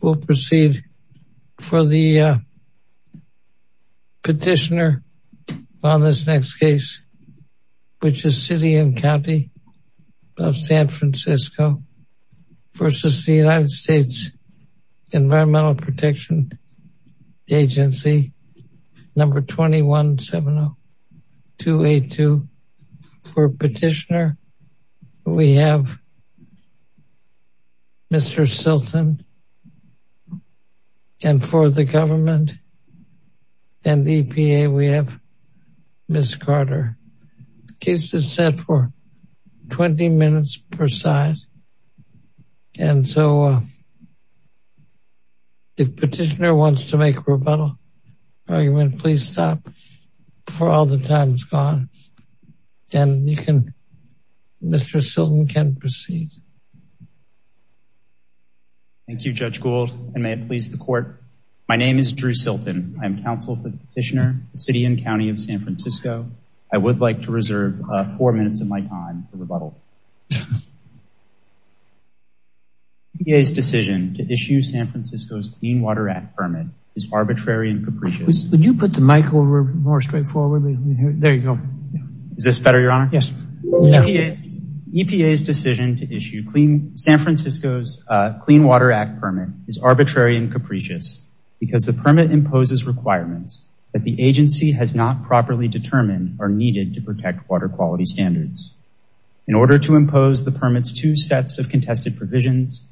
We'll proceed for the petitioner on this next case, which is City & County of San Francisco v. The United States Environmental Protection Agency, number 2170282. For petitioner, we have Mr. Silton. And for the government and EPA, we have Ms. Carter. Case is set for 20 minutes per side. And so if petitioner wants to make rebuttal argument, please stop before all the time is gone. And you can, Mr. Silton can proceed. Thank you, Judge Gould, and may it please the court. My name is Drew Silton. I'm counsel for the petitioner, City & County of San Francisco. I would like to reserve four minutes of my time for rebuttal. EPA's decision to issue San Francisco's Clean Water Act permit is arbitrary and capricious. Would you put the mic over more straightforwardly? There you go. Is this better, Your Honor? Yes. EPA's decision to issue San Francisco's Clean Water Act permit is arbitrary and capricious because the permit imposes requirements that the agency has not properly determined are needed to protect water quality standards. In order to impose the permit's two sets of contested provisions,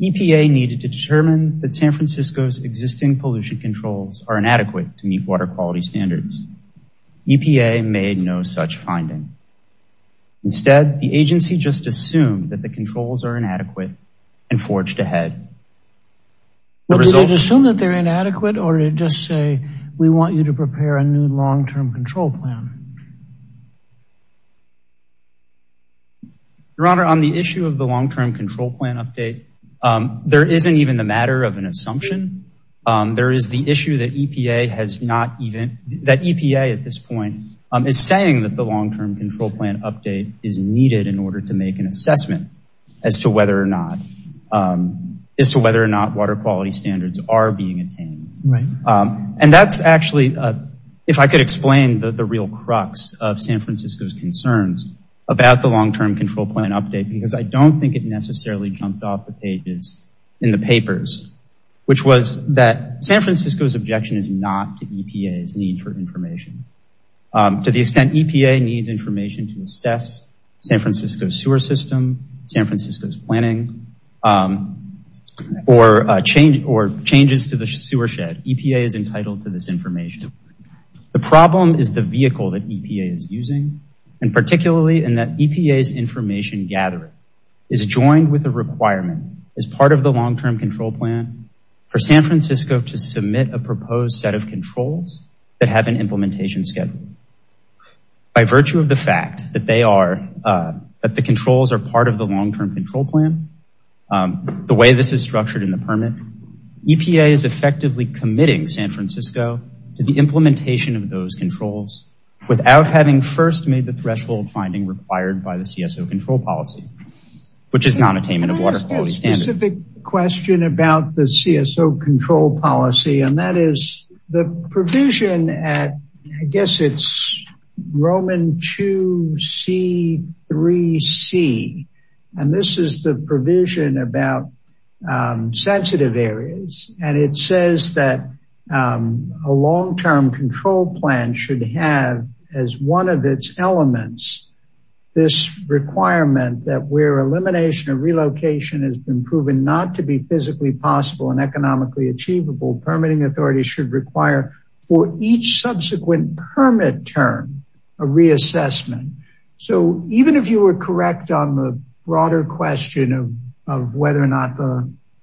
EPA needed to determine that San Francisco's existing pollution controls are inadequate to meet water quality standards. EPA made no such finding. Instead, the agency just assumed that the controls are inadequate and forged ahead. Did it assume that they're inadequate or did it just say, we want you to prepare a new long-term control plan? Your Honor, on the issue of the long-term control plan update, there isn't even the matter of an assumption. There is the issue that EPA has not even, that EPA at this point is saying that the long-term control plan update is needed in order to make an assessment as to whether or not, water quality standards are being attained. And that's actually, if I could explain the real crux of San Francisco's concerns about the long-term control plan update, because I don't think it necessarily jumped off the pages in the papers, which was that San Francisco's objection is not to EPA's need for information. To the extent EPA needs information to assess San Francisco's system, San Francisco's planning, or changes to the sewer shed, EPA is entitled to this information. The problem is the vehicle that EPA is using, and particularly in that EPA's information gathering is joined with a requirement as part of the long-term control plan for San Francisco to submit a proposed set of controls that have an implementation schedule. By virtue of the fact that they are, that the controls are part of the long-term control plan, the way this is structured in the permit, EPA is effectively committing San Francisco to the implementation of those controls without having first made the threshold finding required by the CSO control policy, which is non-attainment of water standard. I have a specific question about the CSO control policy, and that is the provision at, I guess it's Roman 2C3C, and this is the provision about sensitive areas, and it says that a long-term control plan should have as one of its elements this requirement that where elimination of relocation has been proven not to be physically possible and economically achievable, permitting authorities should require for each subsequent permit term a reassessment. So even if you were correct on the broader question of whether or not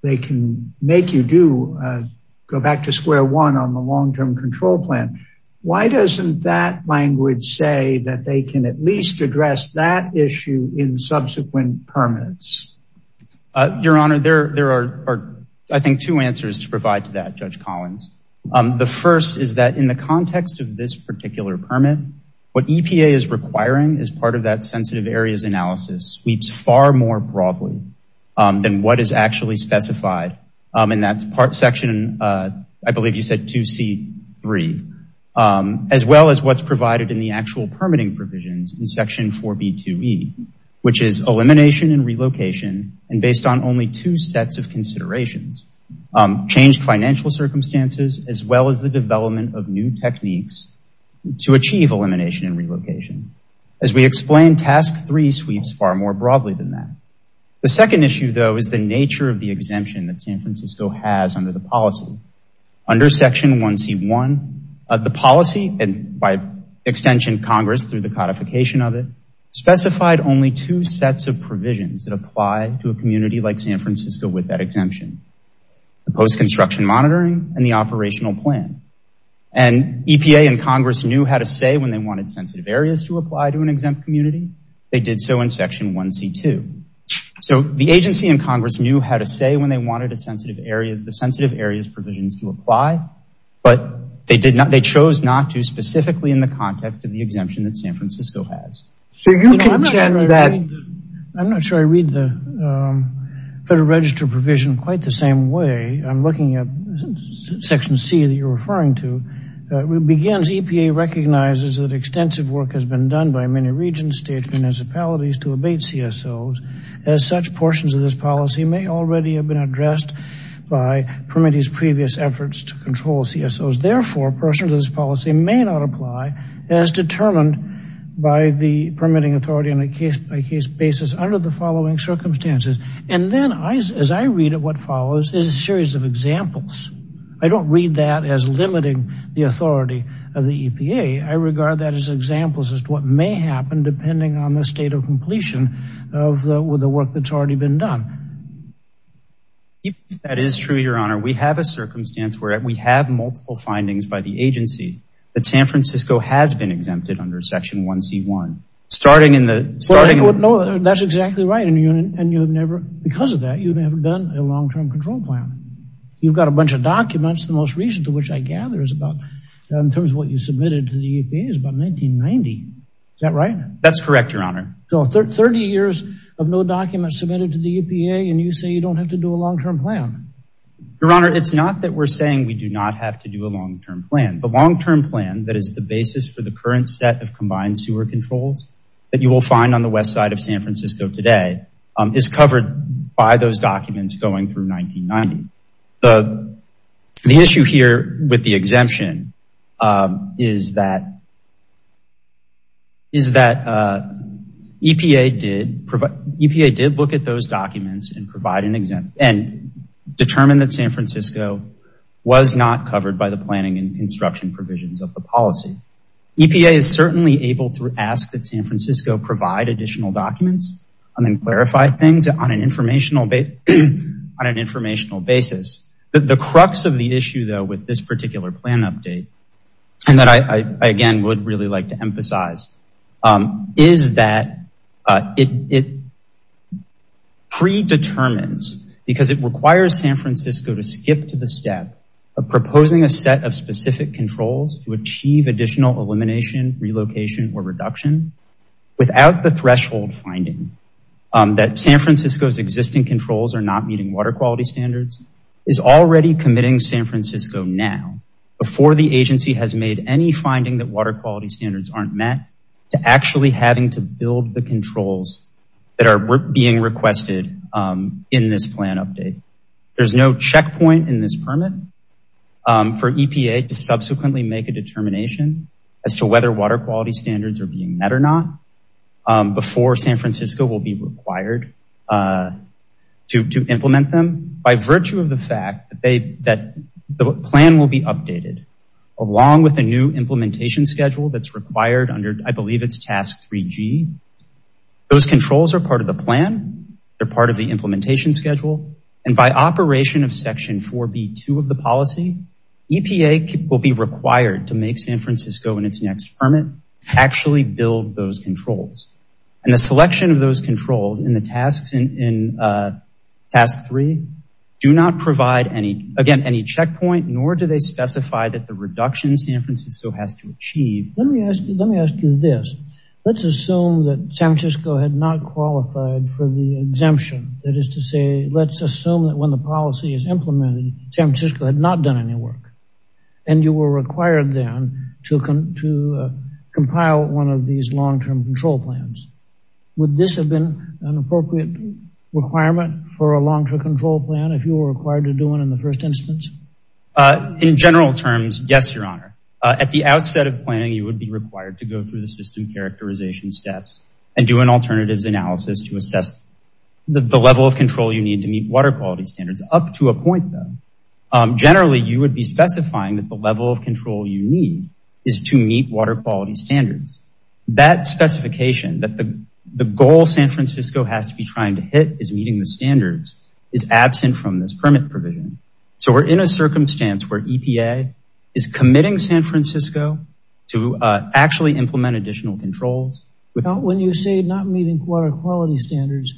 they can make you do, go back to square one on the long-term control plan, why doesn't that language say that they can at least address that issue in subsequent permits? Your Honor, there are, I think, two answers to provide to that, Judge Collins. The first is that in the context of this particular permit, what EPA is requiring as part of that sensitive areas analysis sweeps far more broadly than what is actually specified in that part section, I believe you said 2C3, as well as what's provided in the actual permitting provisions in section 4b2e, which is elimination and relocation, and based on only two sets of considerations, changed financial circumstances, as well as the development of new techniques to achieve elimination and relocation. As we explained, task three sweeps far more broadly than that. The second issue, though, is the nature of the exemption that San Francisco has under the policy. Under section 1C1, the policy, and by extension Congress through the codification of it, specified only two sets of provisions that apply to a community like San Francisco with that exemption, the post-construction monitoring and the operational plan, and EPA and Congress knew how to say when they wanted sensitive areas to apply to an exempt community. They did so in section 1C2, so the agency and Congress knew how to say when they wanted the sensitive areas provisions to apply, but they chose not to specifically in the context of the exemption that San Francisco has. I'm not sure I read the Federal Register provision quite the same way. I'm looking at section C that you're referring to. It begins, EPA recognizes that extensive work has been done by many regions, states, municipalities to abate CSOs, as such portions of this policy may already have been addressed by permittees previous efforts to control CSOs. Therefore, portions of this policy may not apply as determined by the permitting authority on a case-by-case basis under the following circumstances, and then as I read it, what follows is a series of examples. I don't read that as limiting the authority of the EPA. I regard that as examples as to what may happen depending on the state of completion of the work that's already been done. If that is true, your honor, we have a circumstance where we have multiple findings by the agency that San Francisco has been exempted under section 1c1, starting in the... That's exactly right, and you've never, because of that, you've never done a long-term control plan. You've got a bunch of documents, the most recent of which I gather is about, in terms of what you submitted to the EPA, is about 1990. Is that right? That's correct, your honor. So 30 years of no documents submitted to the EPA, and you say you don't have to do a long-term plan. Your honor, it's not that we're saying we do not have to do a long-term plan. The long-term plan, that is the basis for the current set of combined sewer controls that you will find on the west side of San Francisco today, is covered by those documents going through 1990. The issue here with the exemption is that EPA did look at those documents and determine that San Francisco was not covered by the planning and construction provisions of the policy. EPA is certainly able to ask that San Francisco provide additional documents, and then clarify things on an informational basis. The crux of the issue, though, with this particular plan update, and that I, again, would really like to emphasize, is that it predetermines, because it requires San Francisco to skip to the step of proposing a set of specific controls to achieve additional elimination, relocation, or reduction without the threshold finding that San Francisco's existing controls are meeting water quality standards, is already committing San Francisco now, before the agency has made any finding that water quality standards aren't met, to actually having to build the controls that are being requested in this plan update. There's no checkpoint in this permit for EPA to subsequently make a determination as to whether water quality standards are being met or not, before San Francisco will be required to implement them, by virtue of the fact that the plan will be updated, along with a new implementation schedule that's required under, I believe it's task 3G. Those controls are part of the plan, they're part of the implementation schedule, and by operation of section 4B2 of the policy, EPA will be required to make San Francisco in its next permit, actually build those controls. And the selection of those controls in the tasks task 3, do not provide any, again, any checkpoint, nor do they specify that the reduction San Francisco has to achieve. Let me ask you this, let's assume that San Francisco had not qualified for the exemption, that is to say, let's assume that when the policy is implemented, San Francisco had not done any work, and you were required then to compile one of these long-term control plans. Would this have been an appropriate requirement for a long-term control plan, if you were required to do one in the first instance? In general terms, yes, your honor. At the outset of planning, you would be required to go through the system characterization steps, and do an alternatives analysis to assess the level of control you need to meet water quality standards, up to a point though. Generally, you would be specifying that the level of control you need is to meet water quality standards. That specification, that the goal San Francisco has to be trying to hit is meeting the standards, is absent from this permit provision. So we're in a circumstance where EPA is committing San Francisco to actually implement additional controls. When you say not meeting water quality standards,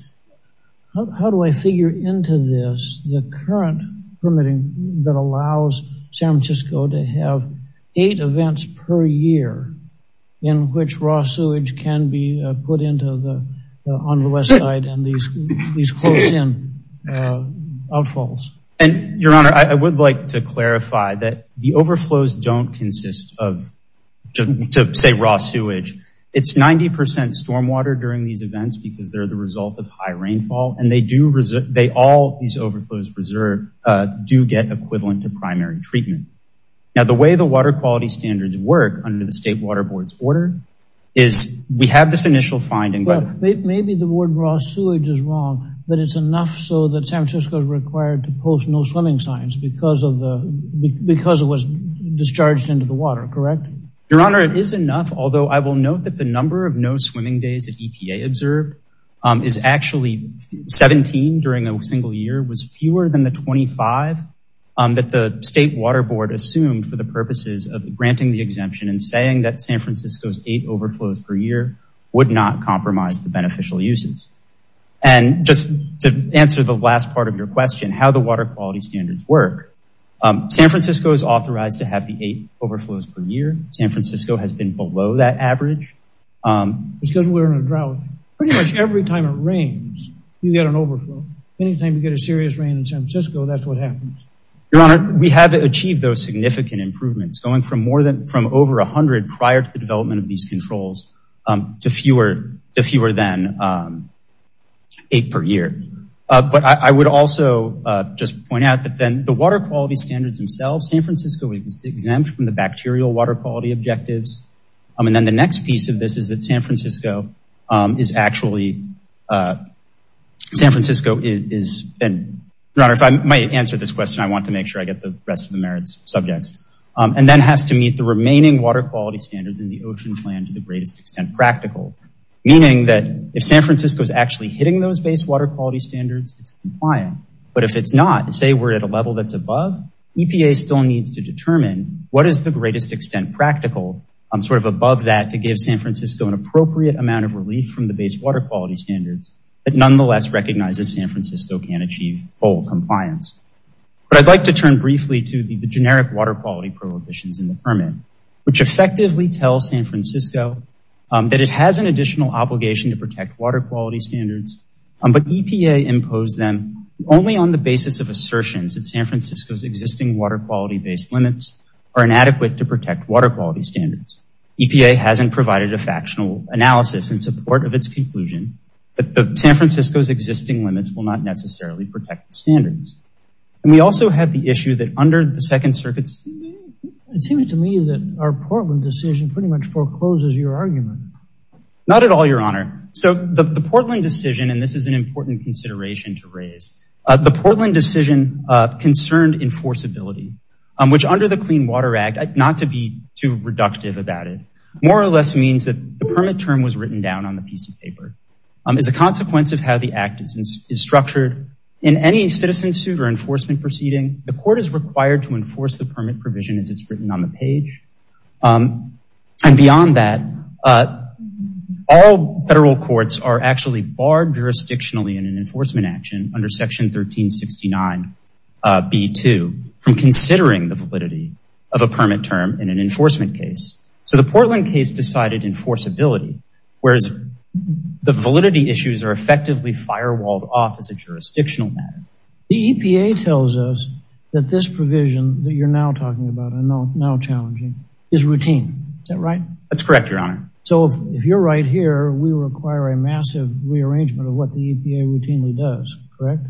how do I figure into this the current permitting that allows San Francisco to have eight events per year in which raw sewage can be put into the on the west side, and these close-in outfalls? And your honor, I would like to clarify that the overflows don't because they're the result of high rainfall, and they do, they all, these overflows reserve, do get equivalent to primary treatment. Now the way the water quality standards work under the state water board's order, is we have this initial finding, but maybe the word raw sewage is wrong, but it's enough so that San Francisco is required to post no swimming signs because of the, because it was discharged into the water, correct? Your honor, it is enough, although I will note the number of no swimming days that EPA observed is actually 17 during a single year, was fewer than the 25 that the state water board assumed for the purposes of granting the exemption and saying that San Francisco's eight overflows per year would not compromise the beneficial uses. And just to answer the last part of your question, how the water quality standards work, San Francisco is authorized to have the eight overflows per year. San Francisco has been below that average. Because we're in a drought, pretty much every time it rains, you get an overflow. Anytime you get a serious rain in San Francisco, that's what happens. Your honor, we have achieved those significant improvements going from more than, from over a hundred prior to the development of these controls, to fewer, to fewer than eight per year. But I would also just point out that then the water quality standards themselves, San Francisco is exempt from the bacterial water objectives. And then the next piece of this is that San Francisco is actually, San Francisco is, and your honor, if I might answer this question, I want to make sure I get the rest of the merits subjects, and then has to meet the remaining water quality standards in the ocean plan to the greatest extent practical. Meaning that if San Francisco is actually hitting those base water quality standards, it's compliant. But if it's not, say we're at a level that's above, EPA still needs to determine what is the greatest extent practical, sort of above that to give San Francisco an appropriate amount of relief from the base water quality standards, that nonetheless recognizes San Francisco can achieve full compliance. But I'd like to turn briefly to the generic water quality prohibitions in the permit, which effectively tell San Francisco that it has an additional obligation to protect water quality standards. But EPA imposed them only on the basis of assertions that San Francisco's existing water quality based limits are inadequate to protect water quality standards. EPA hasn't provided a factional analysis in support of its conclusion, but the San Francisco's existing limits will not necessarily protect the standards. And we also have the issue that under the second circuits, it seems to me that our Portland decision pretty much forecloses your argument. Not at all, your honor. So the Portland decision, and this is an important consideration to raise, the Portland decision concerned enforceability, which under the Clean Water Act, not to be too reductive about it, more or less means that the permit term was written down on the piece of paper. As a consequence of how the act is structured, in any citizen suit or enforcement proceeding, the court is required to enforce the permit provision as it's written on the page. And beyond that, all federal courts are actually barred jurisdictionally in an enforcement action under section 1369B2 from considering the validity of a permit term in an enforcement case. So the Portland case decided enforceability, whereas the validity issues are effectively firewalled off as a jurisdictional matter. The EPA tells us that this provision that you're now talking about, I know now challenging, is routine. Is that right? That's correct, your honor. So if you're right here, we require a massive rearrangement of what the EPA routinely does, correct?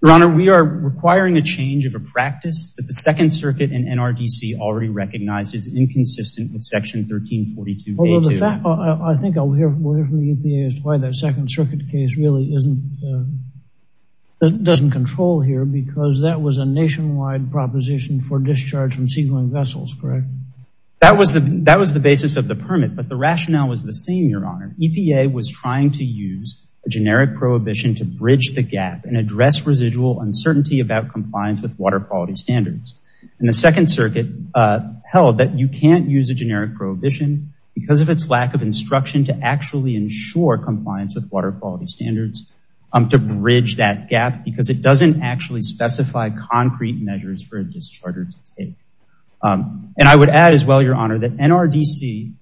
Your honor, we are requiring a change of a practice that the second circuit and NRDC already recognize is inconsistent with section 1342A2. I think I'll hear from the EPA as to why that second circuit case really doesn't control here, because that was a nationwide proposition for discharge from seagoing vessels, correct? That was the basis of the permit, but the rationale was the same, your honor. EPA was trying to use a generic prohibition to bridge the gap and address residual uncertainty about compliance with water quality standards. And the second circuit held that you can't use a generic prohibition because of its lack of instruction to actually ensure compliance with water quality standards to bridge that gap, because it doesn't actually specify concrete measures for a discharger to take. And I would add as well, your honor, that NRDC,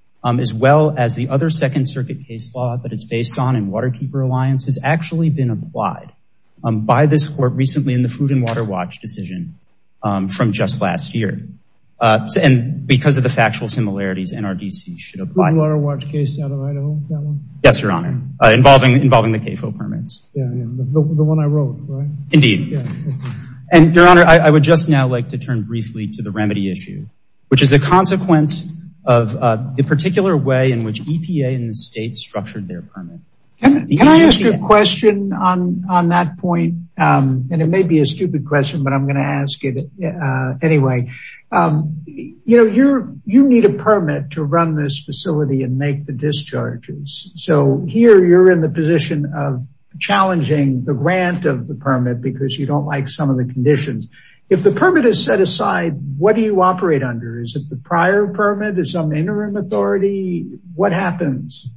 as well as the other second circuit case law that it's based on in Waterkeeper Alliance, has actually been applied by this court recently in the Food and Water Watch decision from just last year. And because of the factual similarities, NRDC should apply. Food and Water Watch case out of Idaho, that one? Yes, your honor. Involving the CAFO permits. The one I wrote, right? Indeed. And your honor, I would just now like to turn briefly to the remedy issue, which is a consequence of the particular way in which EPA and the state structured their permit. Can I ask a question on that point? And it may be a stupid question, but I'm going to ask it anyway. You know, you need a permit to run this facility and make the discharges. So here you're in the position of challenging the grant of the permit because you don't like some of the conditions. If the permit is set aside, what do you operate under? Is it the prior permit? Is some interim authority? What happens?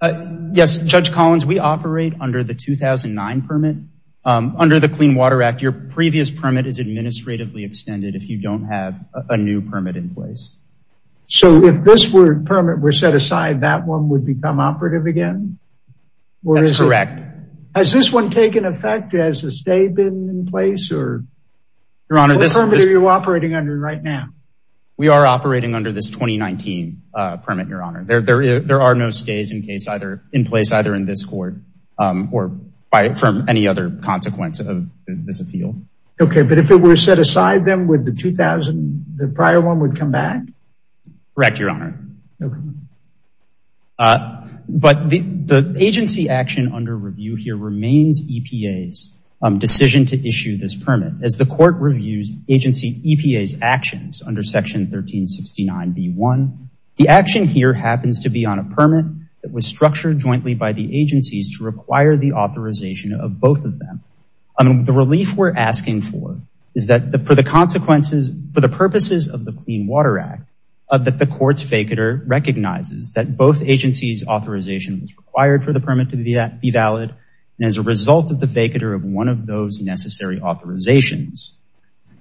Yes, Judge Collins, we operate under the 2009 permit. Under the Clean Water Act, your previous permit is administratively extended if you don't have a new permit in place. So if this permit were set aside, that one would become operative again? That's correct. Has this one taken effect? Has a stay been in place? Your honor, this... What permit are you operating under right now? We are operating under this 2019 permit, your honor. There are no stays in place either in this court or from any other consequence of this appeal. Okay, but if it were set aside, then would the 2000, the prior one would come back? Correct, your honor. Okay. But the agency action under review here remains EPA's decision to issue this permit. As the court reviews agency EPA's actions under Section 1369B1, the action here happens to be on a permit that was structured jointly by the agencies to require the authorization of both of them. The relief we're asking for is that for the consequences, for the purposes of the Clean Water Act, that the court's vacater recognizes that both agencies authorization was required for the permit to be valid. And as a result of the vacater of one of those necessary authorizations,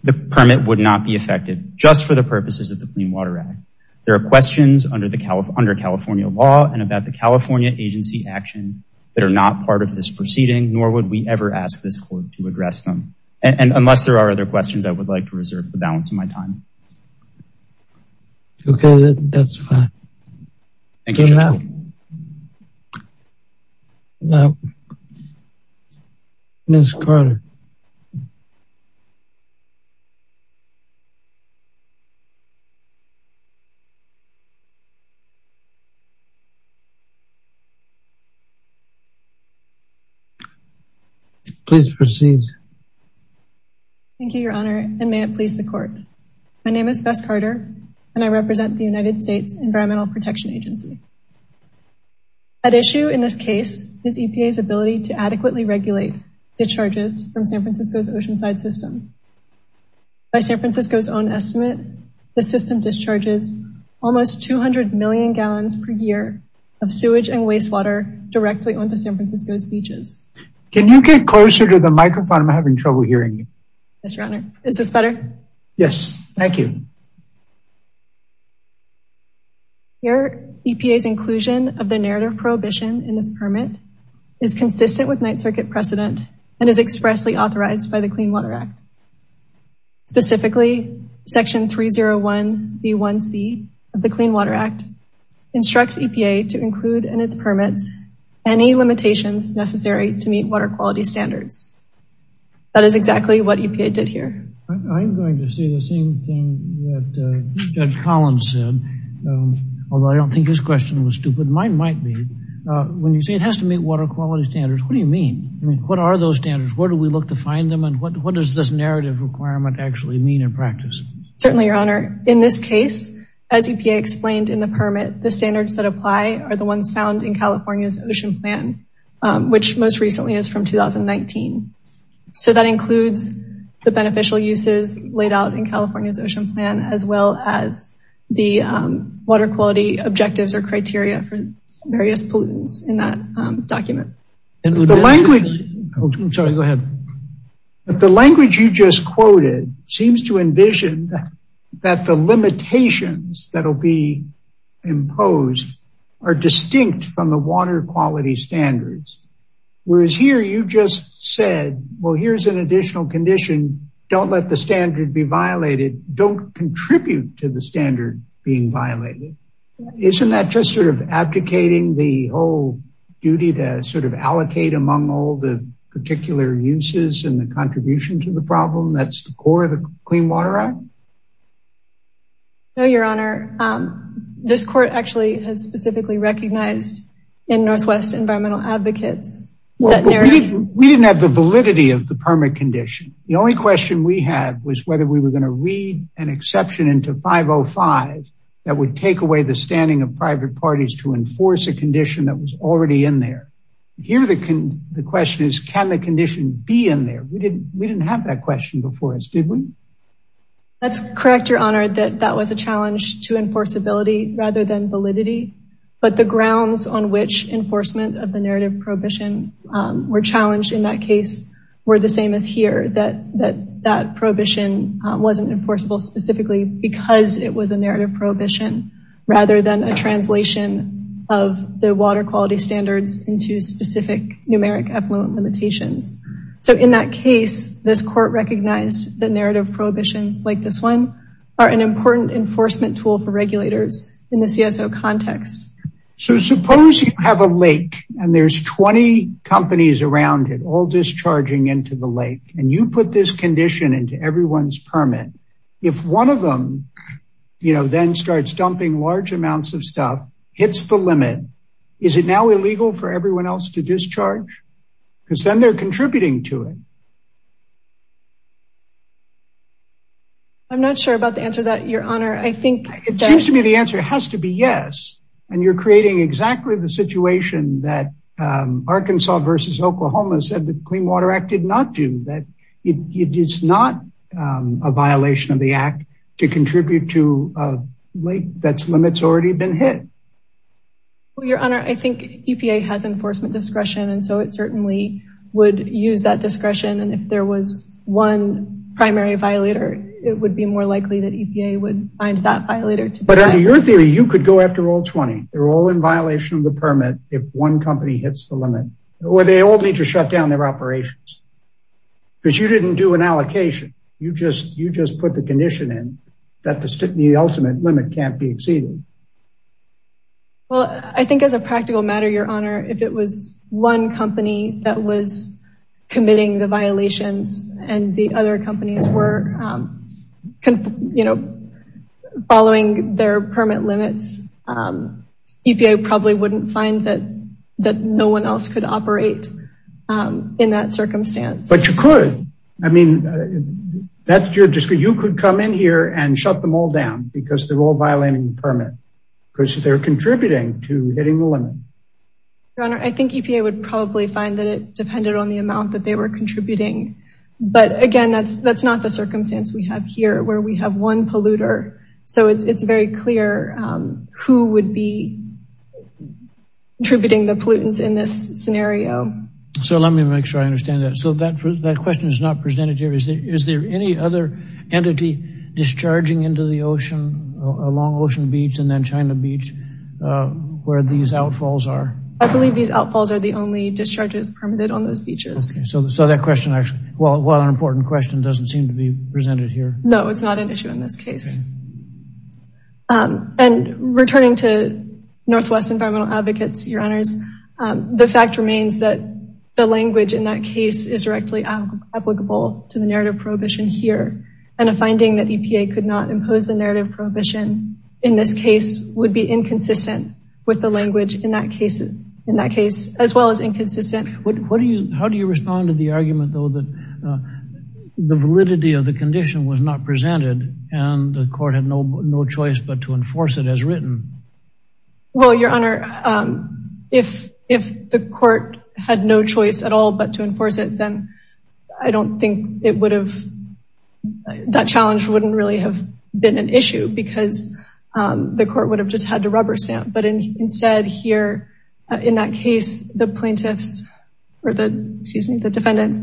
the permit would not be effective just for the purposes of the Clean Water Act. There are questions under California law and about the California agency action that are not part of this proceeding, nor would we ever ask this court to address them. And unless there are other questions, I would like to reserve the balance of my time. Okay, that's fine. Thank you, your honor. Ms. Carter. Please proceed. Thank you, your honor, and may it please the court. My name is Bess Carter, and I represent the United States Environmental Protection Agency. At issue in this case is EPA's ability to adequately regulate discharges from San Francisco's oceanside system. By San Francisco's own estimate, the system discharges almost 200 million gallons per year of sewage and wastewater directly onto San Francisco's beaches. Can you get closer to the microphone? I'm having trouble hearing you. Yes, your honor. Is this better? Yes. Thank you. Your EPA's inclusion of the narrative prohibition in this permit is consistent with Ninth Circuit precedent and is expressly authorized by the Clean Water Act. Specifically, Section 301B1C of the Clean Water Act instructs EPA to include in its permits any limitations necessary to meet water quality standards. That is exactly what EPA did here. I'm going to say the same thing that Judge Collins said, although I don't think his question was stupid. Mine might be. When you say it has to meet water quality standards, what do you mean? What are those standards? Where do we look to find them and what does this narrative requirement actually mean in practice? Certainly, your honor. In this case, as EPA explained in the permit, the standards that apply are the ones found in California's ocean plan, which most recently is from 2019. So that includes the beneficial uses laid out in California's ocean plan as well as the water quality objectives or criteria for various pollutants in that document. The language you just quoted seems to envision that the limitations that will be imposed are distinct from the water quality standards. Whereas here you just said, well, here's an additional condition. Don't let the standard be violated. Don't contribute to the among all the particular uses and the contribution to the problem. That's the core of the Clean Water Act. No, your honor. This court actually has specifically recognized in Northwest Environmental Advocates. We didn't have the validity of the permit condition. The only question we had was whether we were going to read an exception into 505 that would take away the standing of private parties to enforce a condition that was already in there. Here the question is, can the condition be in there? We didn't have that question before us, did we? That's correct, your honor, that that was a challenge to enforceability rather than validity. But the grounds on which enforcement of the narrative prohibition were challenged in that case were the same as here. That prohibition wasn't enforceable specifically because it was a narrative prohibition rather than a translation of the water quality standards into specific numeric effluent limitations. So in that case, this court recognized the narrative prohibitions like this one are an important enforcement tool for regulators in the CSO context. So suppose you have a lake and there's 20 companies around it all discharging into the lake and you put this condition into everyone's permit. If one of them, you know, then starts dumping large amounts of stuff, hits the limit, is it now illegal for everyone else to discharge? Because then they're contributing to it. I'm not sure about the answer to that, your honor. It seems to me the answer has to be yes. And you're creating exactly the situation that Arkansas versus Oklahoma said the Clean Water Act did not do. That it is not a violation of the act to contribute to a lake that's limits already been hit. Well, your honor, I think EPA has enforcement discretion. And so it certainly would use that discretion. And if there was one primary violator, it would be more likely that EPA would find that violator. But under your theory, you could go after all 20. They're all in violation of the permit if one company hits the limit, or they all need to shut down their operations. Because you didn't do an allocation. You just put the condition in that the ultimate limit can't be exceeded. Well, I think as a practical matter, your honor, if it was one company that was committing the violations, and the other companies were, you know, following their permit limits, EPA probably wouldn't find that no one else could operate in that circumstance. But you could. I mean, that's your discretion. You could come in here and shut them all down because they're all violating the permit, because they're contributing to hitting the limit. Your honor, I think EPA would probably find that it depended on the amount that they were contributing. But again, that's that's not the circumstance we have here where we have one polluter. So it's very clear who would be contributing the pollutants in this scenario. So let me make sure I understand that. So that question is not presented here. Is there any other entity discharging into the ocean along Ocean Beach and then China Beach where these outfalls are? I believe these outfalls are the only discharges permitted on those beaches. So that question actually, while an important question, doesn't seem to be presented here. No, it's not an issue in this case. And returning to Northwest Environmental Advocates, your honors, the fact remains that the language in that case is directly applicable to the narrative prohibition here. And a finding that EPA could not impose the narrative prohibition in this case would be inconsistent with the language in that case, in that case, as well as inconsistent. What do you, how do you respond to the argument, though, that the validity of the condition was not presented and the court had no choice but to enforce it as written? Well, your honor, if the court had no choice at all but to enforce it, then I don't think it would have, that challenge wouldn't really have been an issue because the court would have just had to rubber stamp. But instead here, in that case, the plaintiffs, or the, excuse me, the defendants,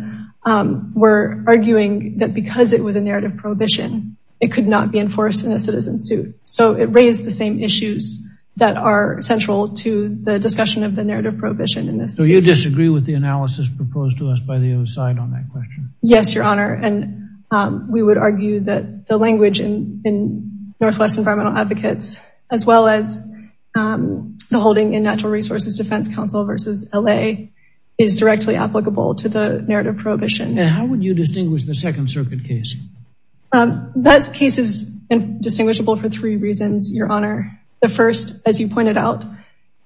were arguing that because it was a narrative prohibition, it could not be enforced in a citizen suit. So it raised the same issues that are central to the discussion of the narrative prohibition in this case. So you disagree with the analysis proposed to us by the other side on that question? Yes, your honor, and we would argue that the language in Northwest Environmental Advocates, as well as the holding in Natural Resources Defense Council versus LA, is directly applicable to the narrative prohibition. And how would you That case is indistinguishable for three reasons, your honor. The first, as you pointed out,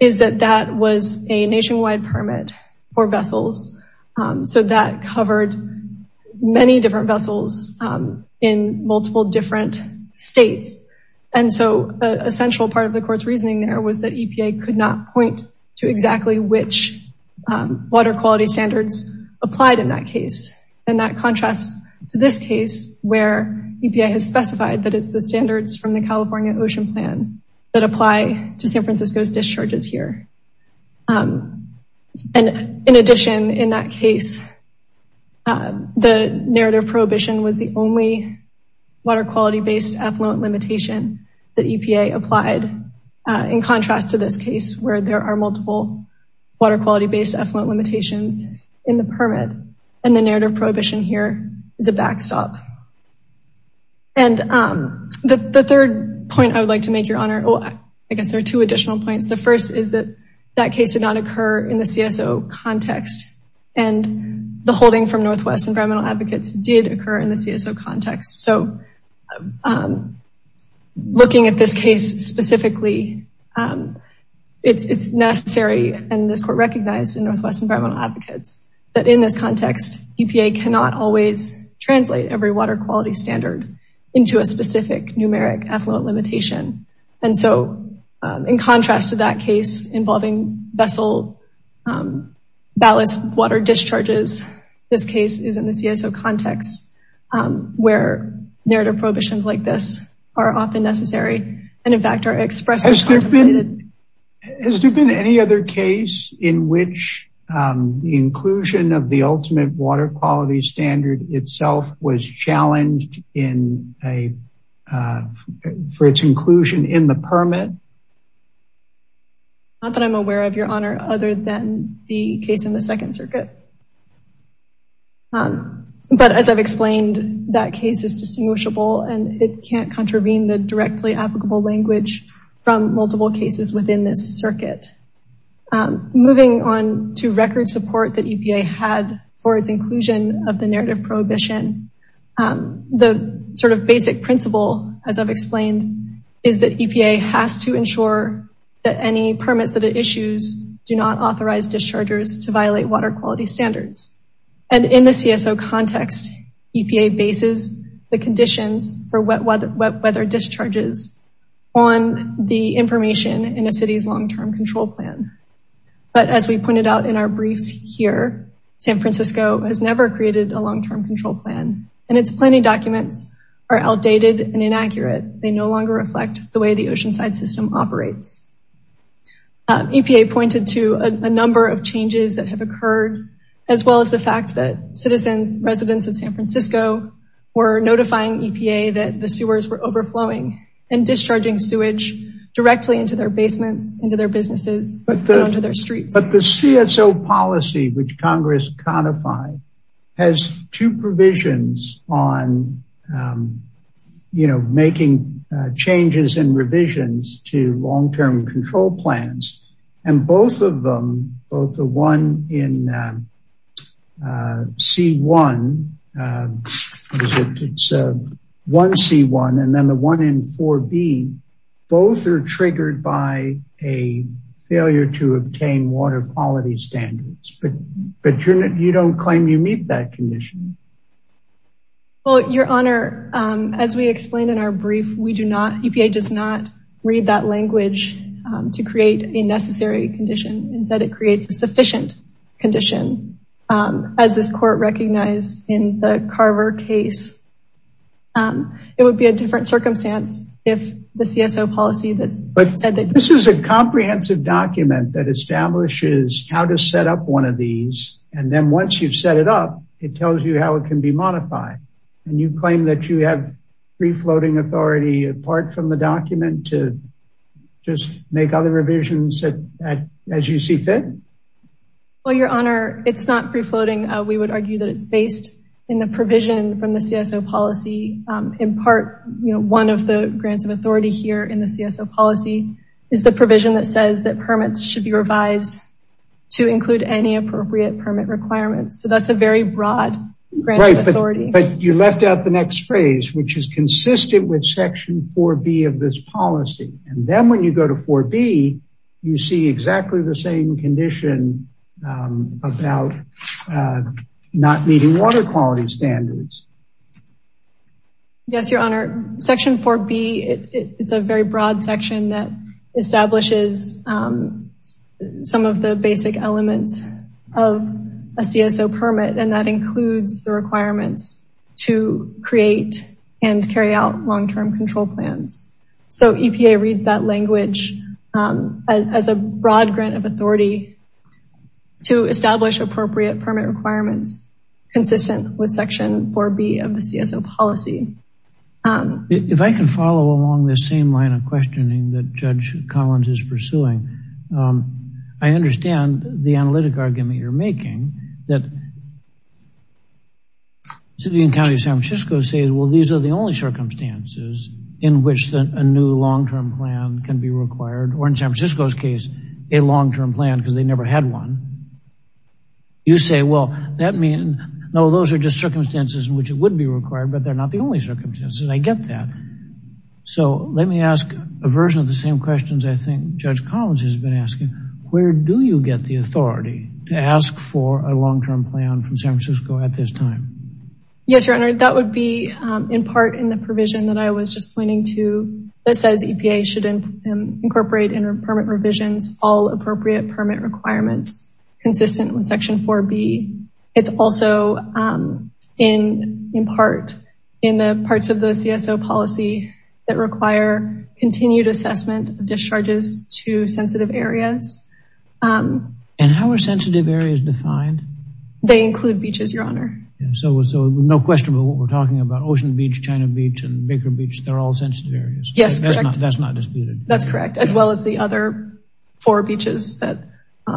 is that that was a nationwide permit for vessels. So that covered many different vessels in multiple different states. And so a central part of the court's reasoning there was that EPA could not point to exactly which water quality standards applied in that case. And that contrasts to this case where EPA has specified that it's the standards from the California Ocean Plan that apply to San Francisco's discharges here. And in addition, in that case, the narrative prohibition was the only water quality-based effluent limitation that EPA applied in contrast to this case where there are multiple water quality-based effluent limitations in the backstop. And the third point I would like to make, your honor, I guess there are two additional points. The first is that that case did not occur in the CSO context and the holding from Northwest Environmental Advocates did occur in the CSO context. So looking at this case specifically, it's necessary, and this court recognized in Northwest Environmental Advocates, that in this context, EPA cannot always translate every water quality standard into a specific numeric effluent limitation. And so in contrast to that case involving vessel ballast water discharges, this case is in the CSO context where narrative prohibitions like this are often of the ultimate water quality standard itself was challenged for its inclusion in the permit. Not that I'm aware of, your honor, other than the case in the Second Circuit. But as I've explained, that case is distinguishable and it can't contravene the directly applicable language from multiple cases within this circuit. Moving on to record support that EPA had for its inclusion of the narrative prohibition, the sort of basic principle, as I've explained, is that EPA has to ensure that any permits that it issues do not authorize dischargers to violate water quality standards. And in the CSO context, EPA bases the conditions for wet weather discharges on the information in a city's long-term control plan. But as we pointed out in our briefs here, San Francisco has never created a long-term control plan and its planning documents are outdated and inaccurate. They no longer reflect the way the Oceanside System operates. EPA pointed to a number of changes that have occurred, as well as the fact that citizens, residents of San Francisco, were notifying EPA that the sewers were overflowing and discharging sewage directly into their basements, into their businesses, and onto their streets. But the CSO policy which Congress codified has two provisions on, you know, making changes and revisions to long-term control plans. And both of them, both the one in C1, what is it, it's 1C1, and then the one in 4B, both are triggered by a failure to obtain water quality standards. But you don't claim you meet that condition. Well, your honor, as we explained in our brief, we do not, EPA does not read that language to create a necessary condition, instead it creates a sufficient condition. As this court recognized in the Carver case, it would be a different circumstance if the CSO policy that's said that- This is a comprehensive document that establishes how to set up one of these, and then once you've set it up, it tells you how it can be modified. And you claim that you have free floating authority apart from the document to just make other revisions as you see fit? Well, your honor, it's not free floating. We would argue that it's based in the provision from the CSO policy. In part, you know, one of the grants of authority here in the CSO policy is the provision that says that permits should be revised to include any appropriate permit requirements. So that's a very broad grant of authority. But you left out the next phrase, which is consistent with section 4B of this policy. And then when you go to 4B, you see exactly the same condition about not meeting water quality standards. Yes, your honor. Section 4B, it's a very broad section that establishes some of the basic elements of a CSO permit, and that includes the requirements to create and carry out long-term control plans. So EPA reads that language as a broad grant of authority to establish appropriate permit requirements consistent with section 4B of the CSO policy. If I can follow along this same questioning that Judge Collins is pursuing, I understand the analytic argument you're making that the city and county of San Francisco say, well, these are the only circumstances in which a new long-term plan can be required, or in San Francisco's case, a long-term plan because they never had one. You say, well, that means, no, those are just circumstances in which it would be required, but they're not the only circumstances. I get that. So let me ask a version of the same questions I think Judge Collins has been asking, where do you get the authority to ask for a long-term plan from San Francisco at this time? Yes, your honor. That would be in part in the provision that I was just pointing to that says EPA should incorporate in permit revisions all appropriate permit requirements consistent with section 4B. It's also in part in the parts of the CSO policy that require continued assessment of discharges to sensitive areas. And how are sensitive areas defined? They include beaches, your honor. So no question about what we're talking about, Ocean Beach, China Beach, and Baker Beach, they're all sensitive areas. Yes. That's not disputed. That's correct. As well as the other four beaches that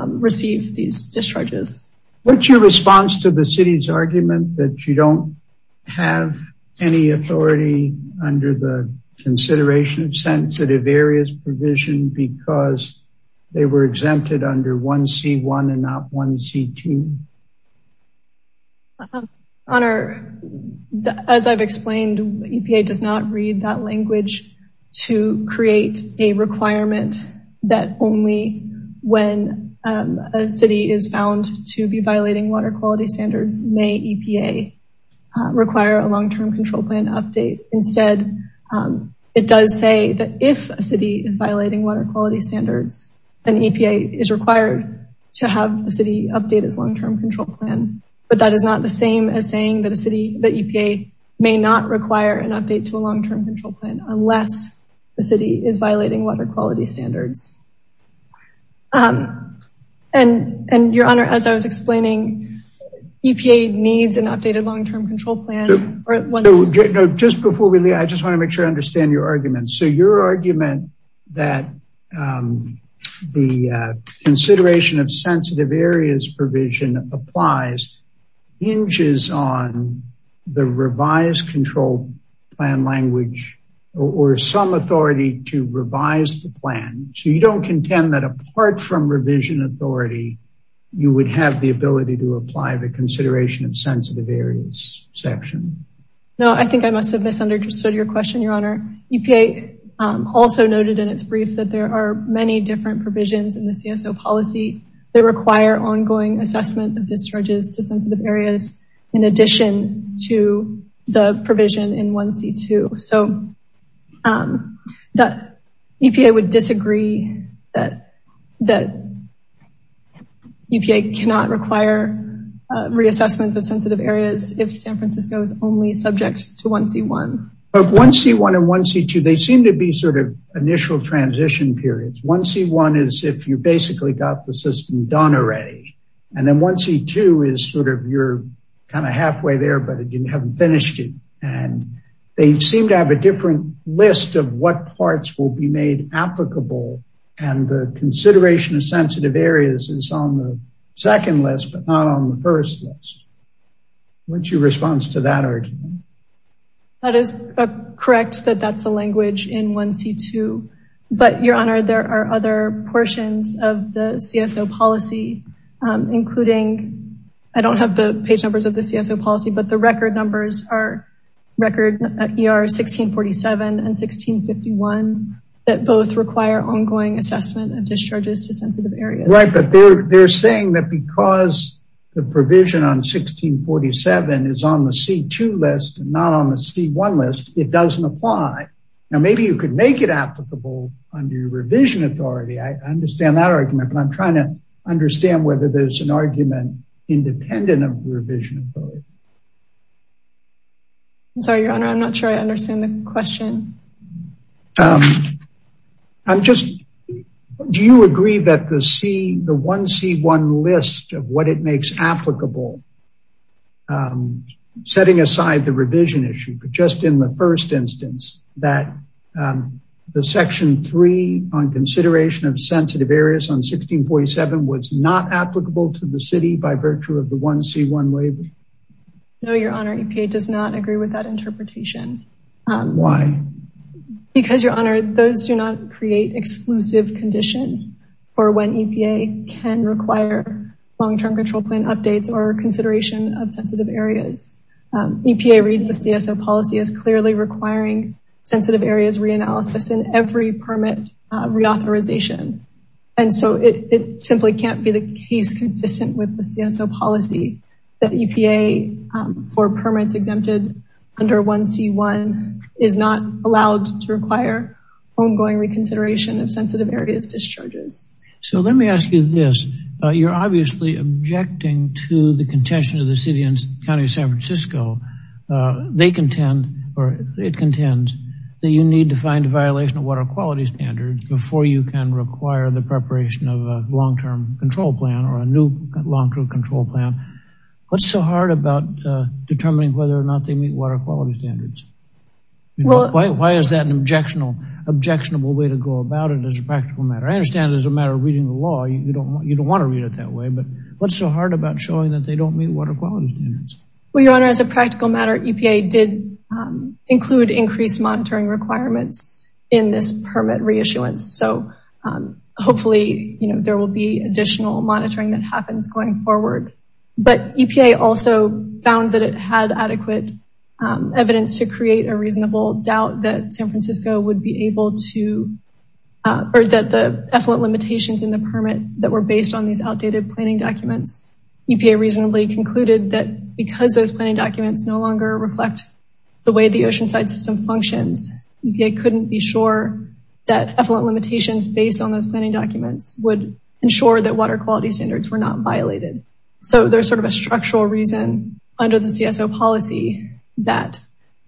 receive these discharges. What's your response to the city's argument that you don't have any authority under the consideration of sensitive areas provision because they were exempted under 1C1 and not 1C2? Honor, as I've explained, EPA does not read that language to create a requirement that only when a city is found to be violating water quality standards may EPA require a long-term control plan update. Instead, it does say that if a city is violating water quality standards, then EPA is required to have a city update its long-term control plan. But that is not the same as saying that EPA may not require an update to a long-term control plan unless the city is violating water quality standards. And your honor, as I was explaining, EPA needs an updated long-term control plan. No, just before we leave, I just want to make sure I understand your argument. So your argument that the consideration of sensitive areas provision applies hinges on the revised control plan language or some authority to revise the plan. So you don't contend that apart from revision authority, you would have the ability to apply the consideration of sensitive areas section? No, I think I must have misunderstood your question, your honor. EPA also noted in its brief that there are many different provisions in the CSO policy that require ongoing assessment of discharges to sensitive areas in addition to the provision in 1C2. So that EPA would disagree that that EPA cannot require reassessments of sensitive areas if San Francisco is only subject to 1C1. But 1C1 and 1C2, they seem to be sort of initial transition periods. 1C1 is if you basically got the system done already. And then 1C2 is sort of you're kind of halfway there, but you haven't finished it. And they seem to have a different list of what parts will be made applicable. And the consideration of sensitive areas is on the second list, but not on the first list. What's your response to that argument? That is correct that that's the language in 1C2. But your honor, there are other portions of the CSO policy, including, I don't have the page numbers of the CSO policy, but the record numbers are record ER 1647 and 1651 that both require ongoing assessment of discharges to sensitive Right, but they're saying that because the provision on 1647 is on the C2 list, not on the C1 list, it doesn't apply. Now, maybe you could make it applicable under revision authority. I understand that argument, but I'm trying to understand whether there's an argument independent of revision authority. I'm sorry, your honor, I'm not sure I understand the question. I'm just, do you agree that the C, the 1C1 list of what it makes applicable, setting aside the revision issue, but just in the first instance that the section three on consideration of sensitive areas on 1647 was not applicable to the city by virtue of the 1C1 waiver? No, your honor, EPA does not agree with that interpretation. Why? Because your honor, those do not create exclusive conditions for when EPA can require long-term control plan updates or consideration of sensitive areas. EPA reads the CSO policy as clearly requiring sensitive areas reanalysis in every permit reauthorization. And so it simply can't be the case consistent with the CSO policy that EPA for permits exempted under 1C1 is not allowed to require ongoing reconsideration of sensitive areas discharges. So let me ask you this. You're obviously objecting to the contention of the city and county of San Francisco. They contend or it contends that you need to find a violation of water quality standards before you can require the preparation of a long-term control plan or a long-term control plan. What's so hard about determining whether or not they meet water quality standards? Why is that an objectionable way to go about it as a practical matter? I understand it as a matter of reading the law. You don't want to read it that way, but what's so hard about showing that they don't meet water quality standards? Well, your honor, as a practical matter, EPA did include increased monitoring requirements in this permit reissuance. So hopefully there will be additional monitoring that happens going forward. But EPA also found that it had adequate evidence to create a reasonable doubt that San Francisco would be able to or that the effluent limitations in the permit that were based on these outdated planning documents. EPA reasonably concluded that because those planning documents no longer reflect the way the oceanside system functions, EPA couldn't be sure that effluent limitations based on those planning documents would ensure that water quality standards were not violated. So there's sort of a structural reason under the CSO policy that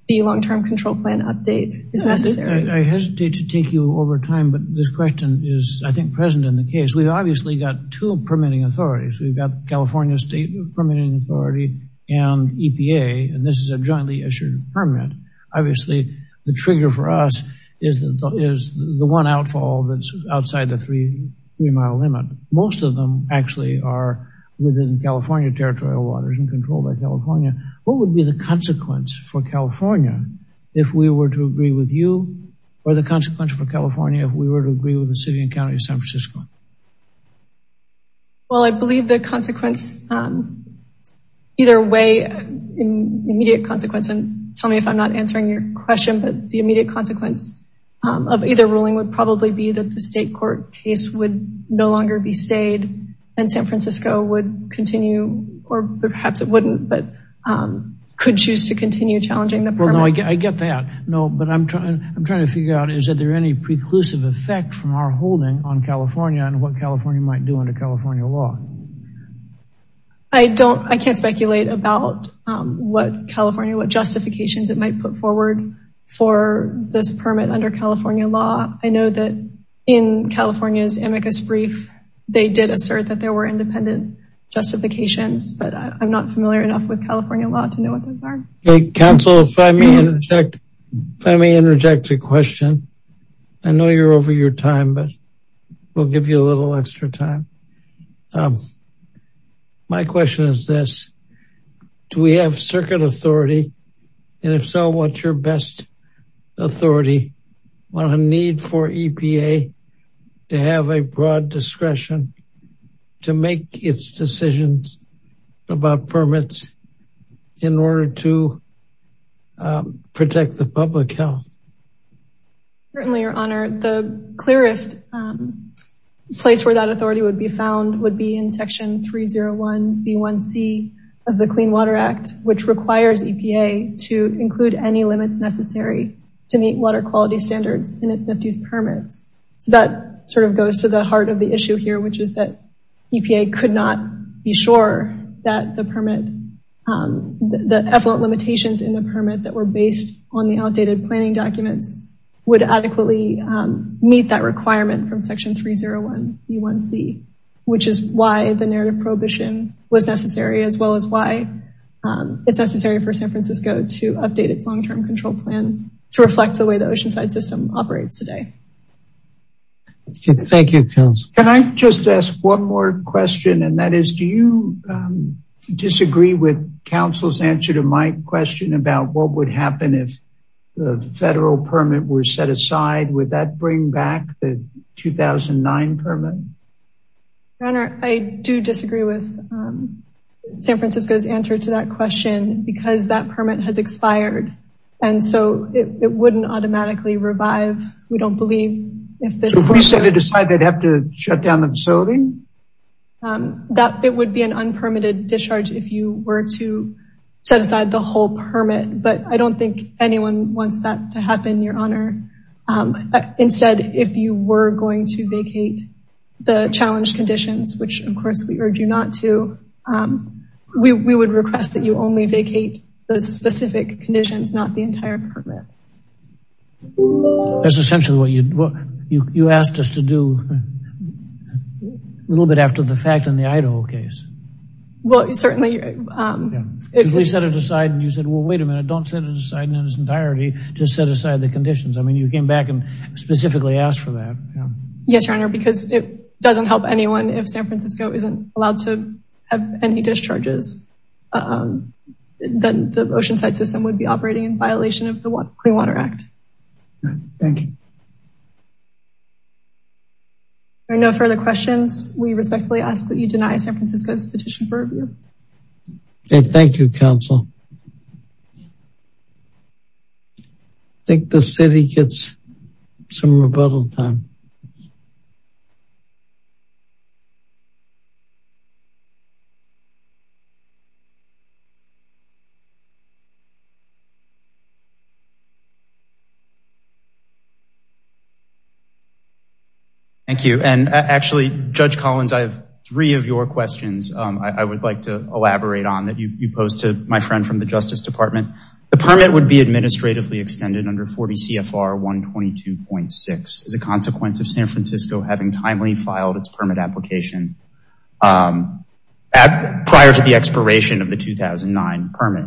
the long-term control plan update is necessary. I hesitate to take you over time, but this question is, I think, present in the case. We've obviously got two permitting authorities. We've got and this is a jointly issued permit. Obviously, the trigger for us is the one outfall that's outside the three-mile limit. Most of them actually are within California territorial waters and controlled by California. What would be the consequence for California if we were to agree with you or the consequence for California if we were to agree with the city of San Francisco? The immediate consequence of either ruling would probably be that the state court case would no longer be stayed and San Francisco would continue or perhaps it wouldn't, but could choose to continue challenging the permit. I get that, but I'm trying to figure out is there any preclusive effect from our holding on California and what California might under California law? I can't speculate about what California, what justifications it might put forward for this permit under California law. I know that in California's amicus brief, they did assert that there were independent justifications, but I'm not familiar enough with California law to know what those are. Counsel, if I may interject a question. I know you're over your time, but we'll give you a little extra time. My question is this, do we have circuit authority and if so, what's your best authority on a need for EPA to have a broad discretion to make its decisions about permits in order to Certainly, your honor, the clearest place where that authority would be found would be in section 301B1C of the Clean Water Act, which requires EPA to include any limits necessary to meet water quality standards in its NFTYS permits. So that sort of goes to the heart of the issue here, which is that EPA could not be sure that the permit, the effluent limitations in the permit that were based on the outdated planning documents would adequately meet that requirement from section 301B1C, which is why the narrative prohibition was necessary, as well as why it's necessary for San Francisco to update its long-term control plan to reflect the way the Oceanside system operates today. Thank you, counsel. Can I just ask one more question and that is, do you disagree with counsel's answer to my question about what would happen if the federal permit were set aside, would that bring back the 2009 permit? Your honor, I do disagree with San Francisco's answer to that question because that permit has expired and so it wouldn't automatically revive, we don't believe. So if we set it aside, they'd have to discharge if you were to set aside the whole permit, but I don't think anyone wants that to happen, your honor. Instead, if you were going to vacate the challenge conditions, which of course we urge you not to, we would request that you only vacate those specific conditions, not the entire permit. That's essentially what you asked us to do a little bit after the fact in the Idaho case. Well, certainly. If we set it aside and you said, well, wait a minute, don't set it aside in its entirety, just set aside the conditions. I mean, you came back and specifically asked for that. Yes, your honor, because it doesn't help anyone if San Francisco isn't allowed to have any discharges, then the Oceanside system would be operating in violation of the Clean Water Act. Thank you. Are there no further questions? We respectfully ask that you deny San Francisco's petition for review. Okay, thank you, counsel. I think the city gets some rebuttal time. Thank you. And actually, Judge Collins, I have three of your questions I would like to elaborate on that you posed to my friend from the Justice Department. The permit would be administratively as a consequence of San Francisco having timely filed its permit application prior to the expiration of the 2009 permit.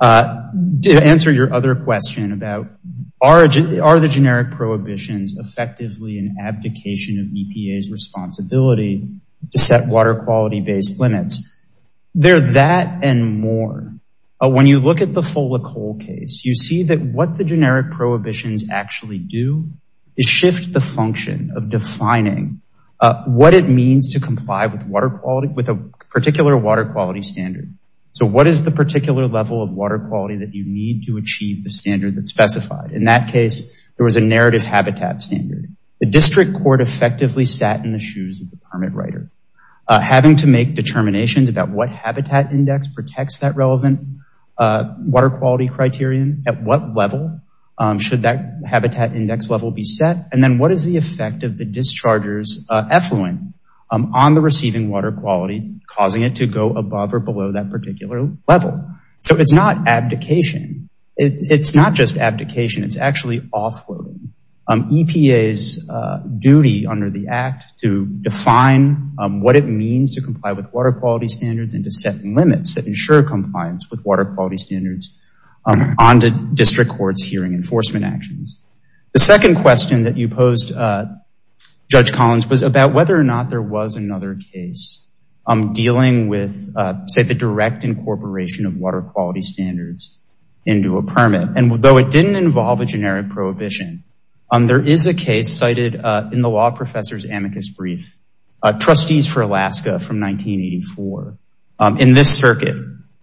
To answer your other question about are the generic prohibitions effectively an abdication of EPA's responsibility to set water quality-based limits, they're that and more. When you look at the Fola Cole case, you see that what the generic prohibitions actually do is shift the function of defining what it means to comply with a particular water quality standard. So what is the particular level of water quality that you need to achieve the standard that's specified? In that case, there was a narrative habitat standard. The district court effectively sat in the shoes of the permit writer. Having to make determinations about what habitat index protects that relevant water quality criterion, at what level should that habitat index level be set, and then what is the effect of the dischargers effluent on the receiving water quality, causing it to go above or below that particular level. So it's not abdication. It's not just abdication. It's actually offloading. EPA's duty under the Act to define what it means to comply with water quality standards and to set limits that ensure compliance with water quality standards on the district court's hearing enforcement actions. The second question that you posed, Judge Collins, was about whether or not there was another case dealing with, say, the direct incorporation of water quality standards into a permit. And though it didn't involve a generic prohibition, there is a case cited in the law professor's brief, Trustees for Alaska from 1984. In this circuit,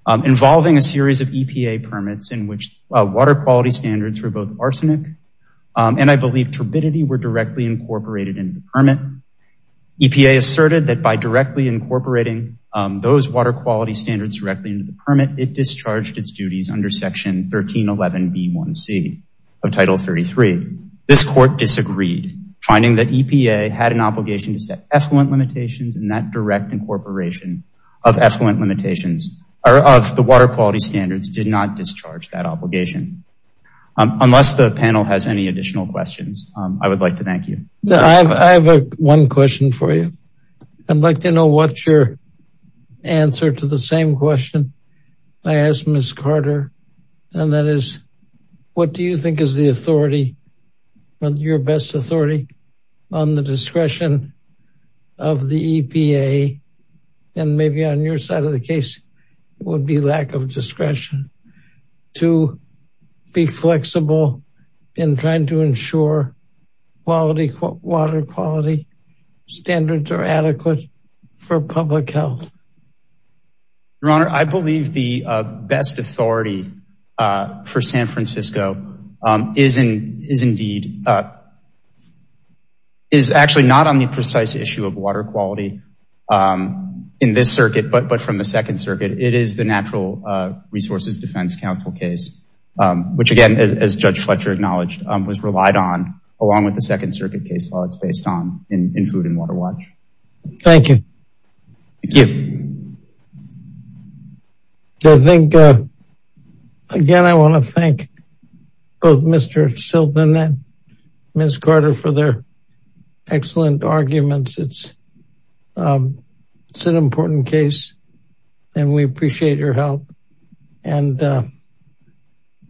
involving a series of EPA permits in which water quality standards for both arsenic and I believe turbidity were directly incorporated into the permit, EPA asserted that by directly incorporating those water quality standards directly into the permit, it discharged its duties under Section 1311B1C of Title 33. This court disagreed, finding that EPA had an obligation to set effluent limitations and that direct incorporation of effluent limitations of the water quality standards did not discharge that obligation. Unless the panel has any additional questions, I would like to thank you. I have one question for you. I'd like to know what's your answer to the same question I asked Ms. Carter, and that is, what do you think is the authority, your best authority on the discretion of the EPA, and maybe on your side of the case, would be lack of discretion to be flexible in trying to ensure quality, water quality standards are adequate for public health? Your Honor, I believe the best authority for San Francisco is indeed, is actually not on the precise issue of water quality in this circuit, but from the Second Circuit, it is the Natural Resources Defense Council case, which again, as Judge Fletcher acknowledged, was relied on, along with the Second Circuit case law, it's based on, in food and water watch. Thank you. Thank you. I think, again, I want to thank both Mr. Sheldon and Ms. Carter for their excellent arguments. It's an important case, and we appreciate your help, and the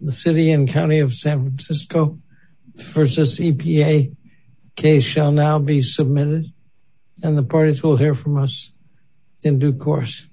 City and County of San Francisco versus EPA case shall now be submitted, and the parties will hear from us in due course.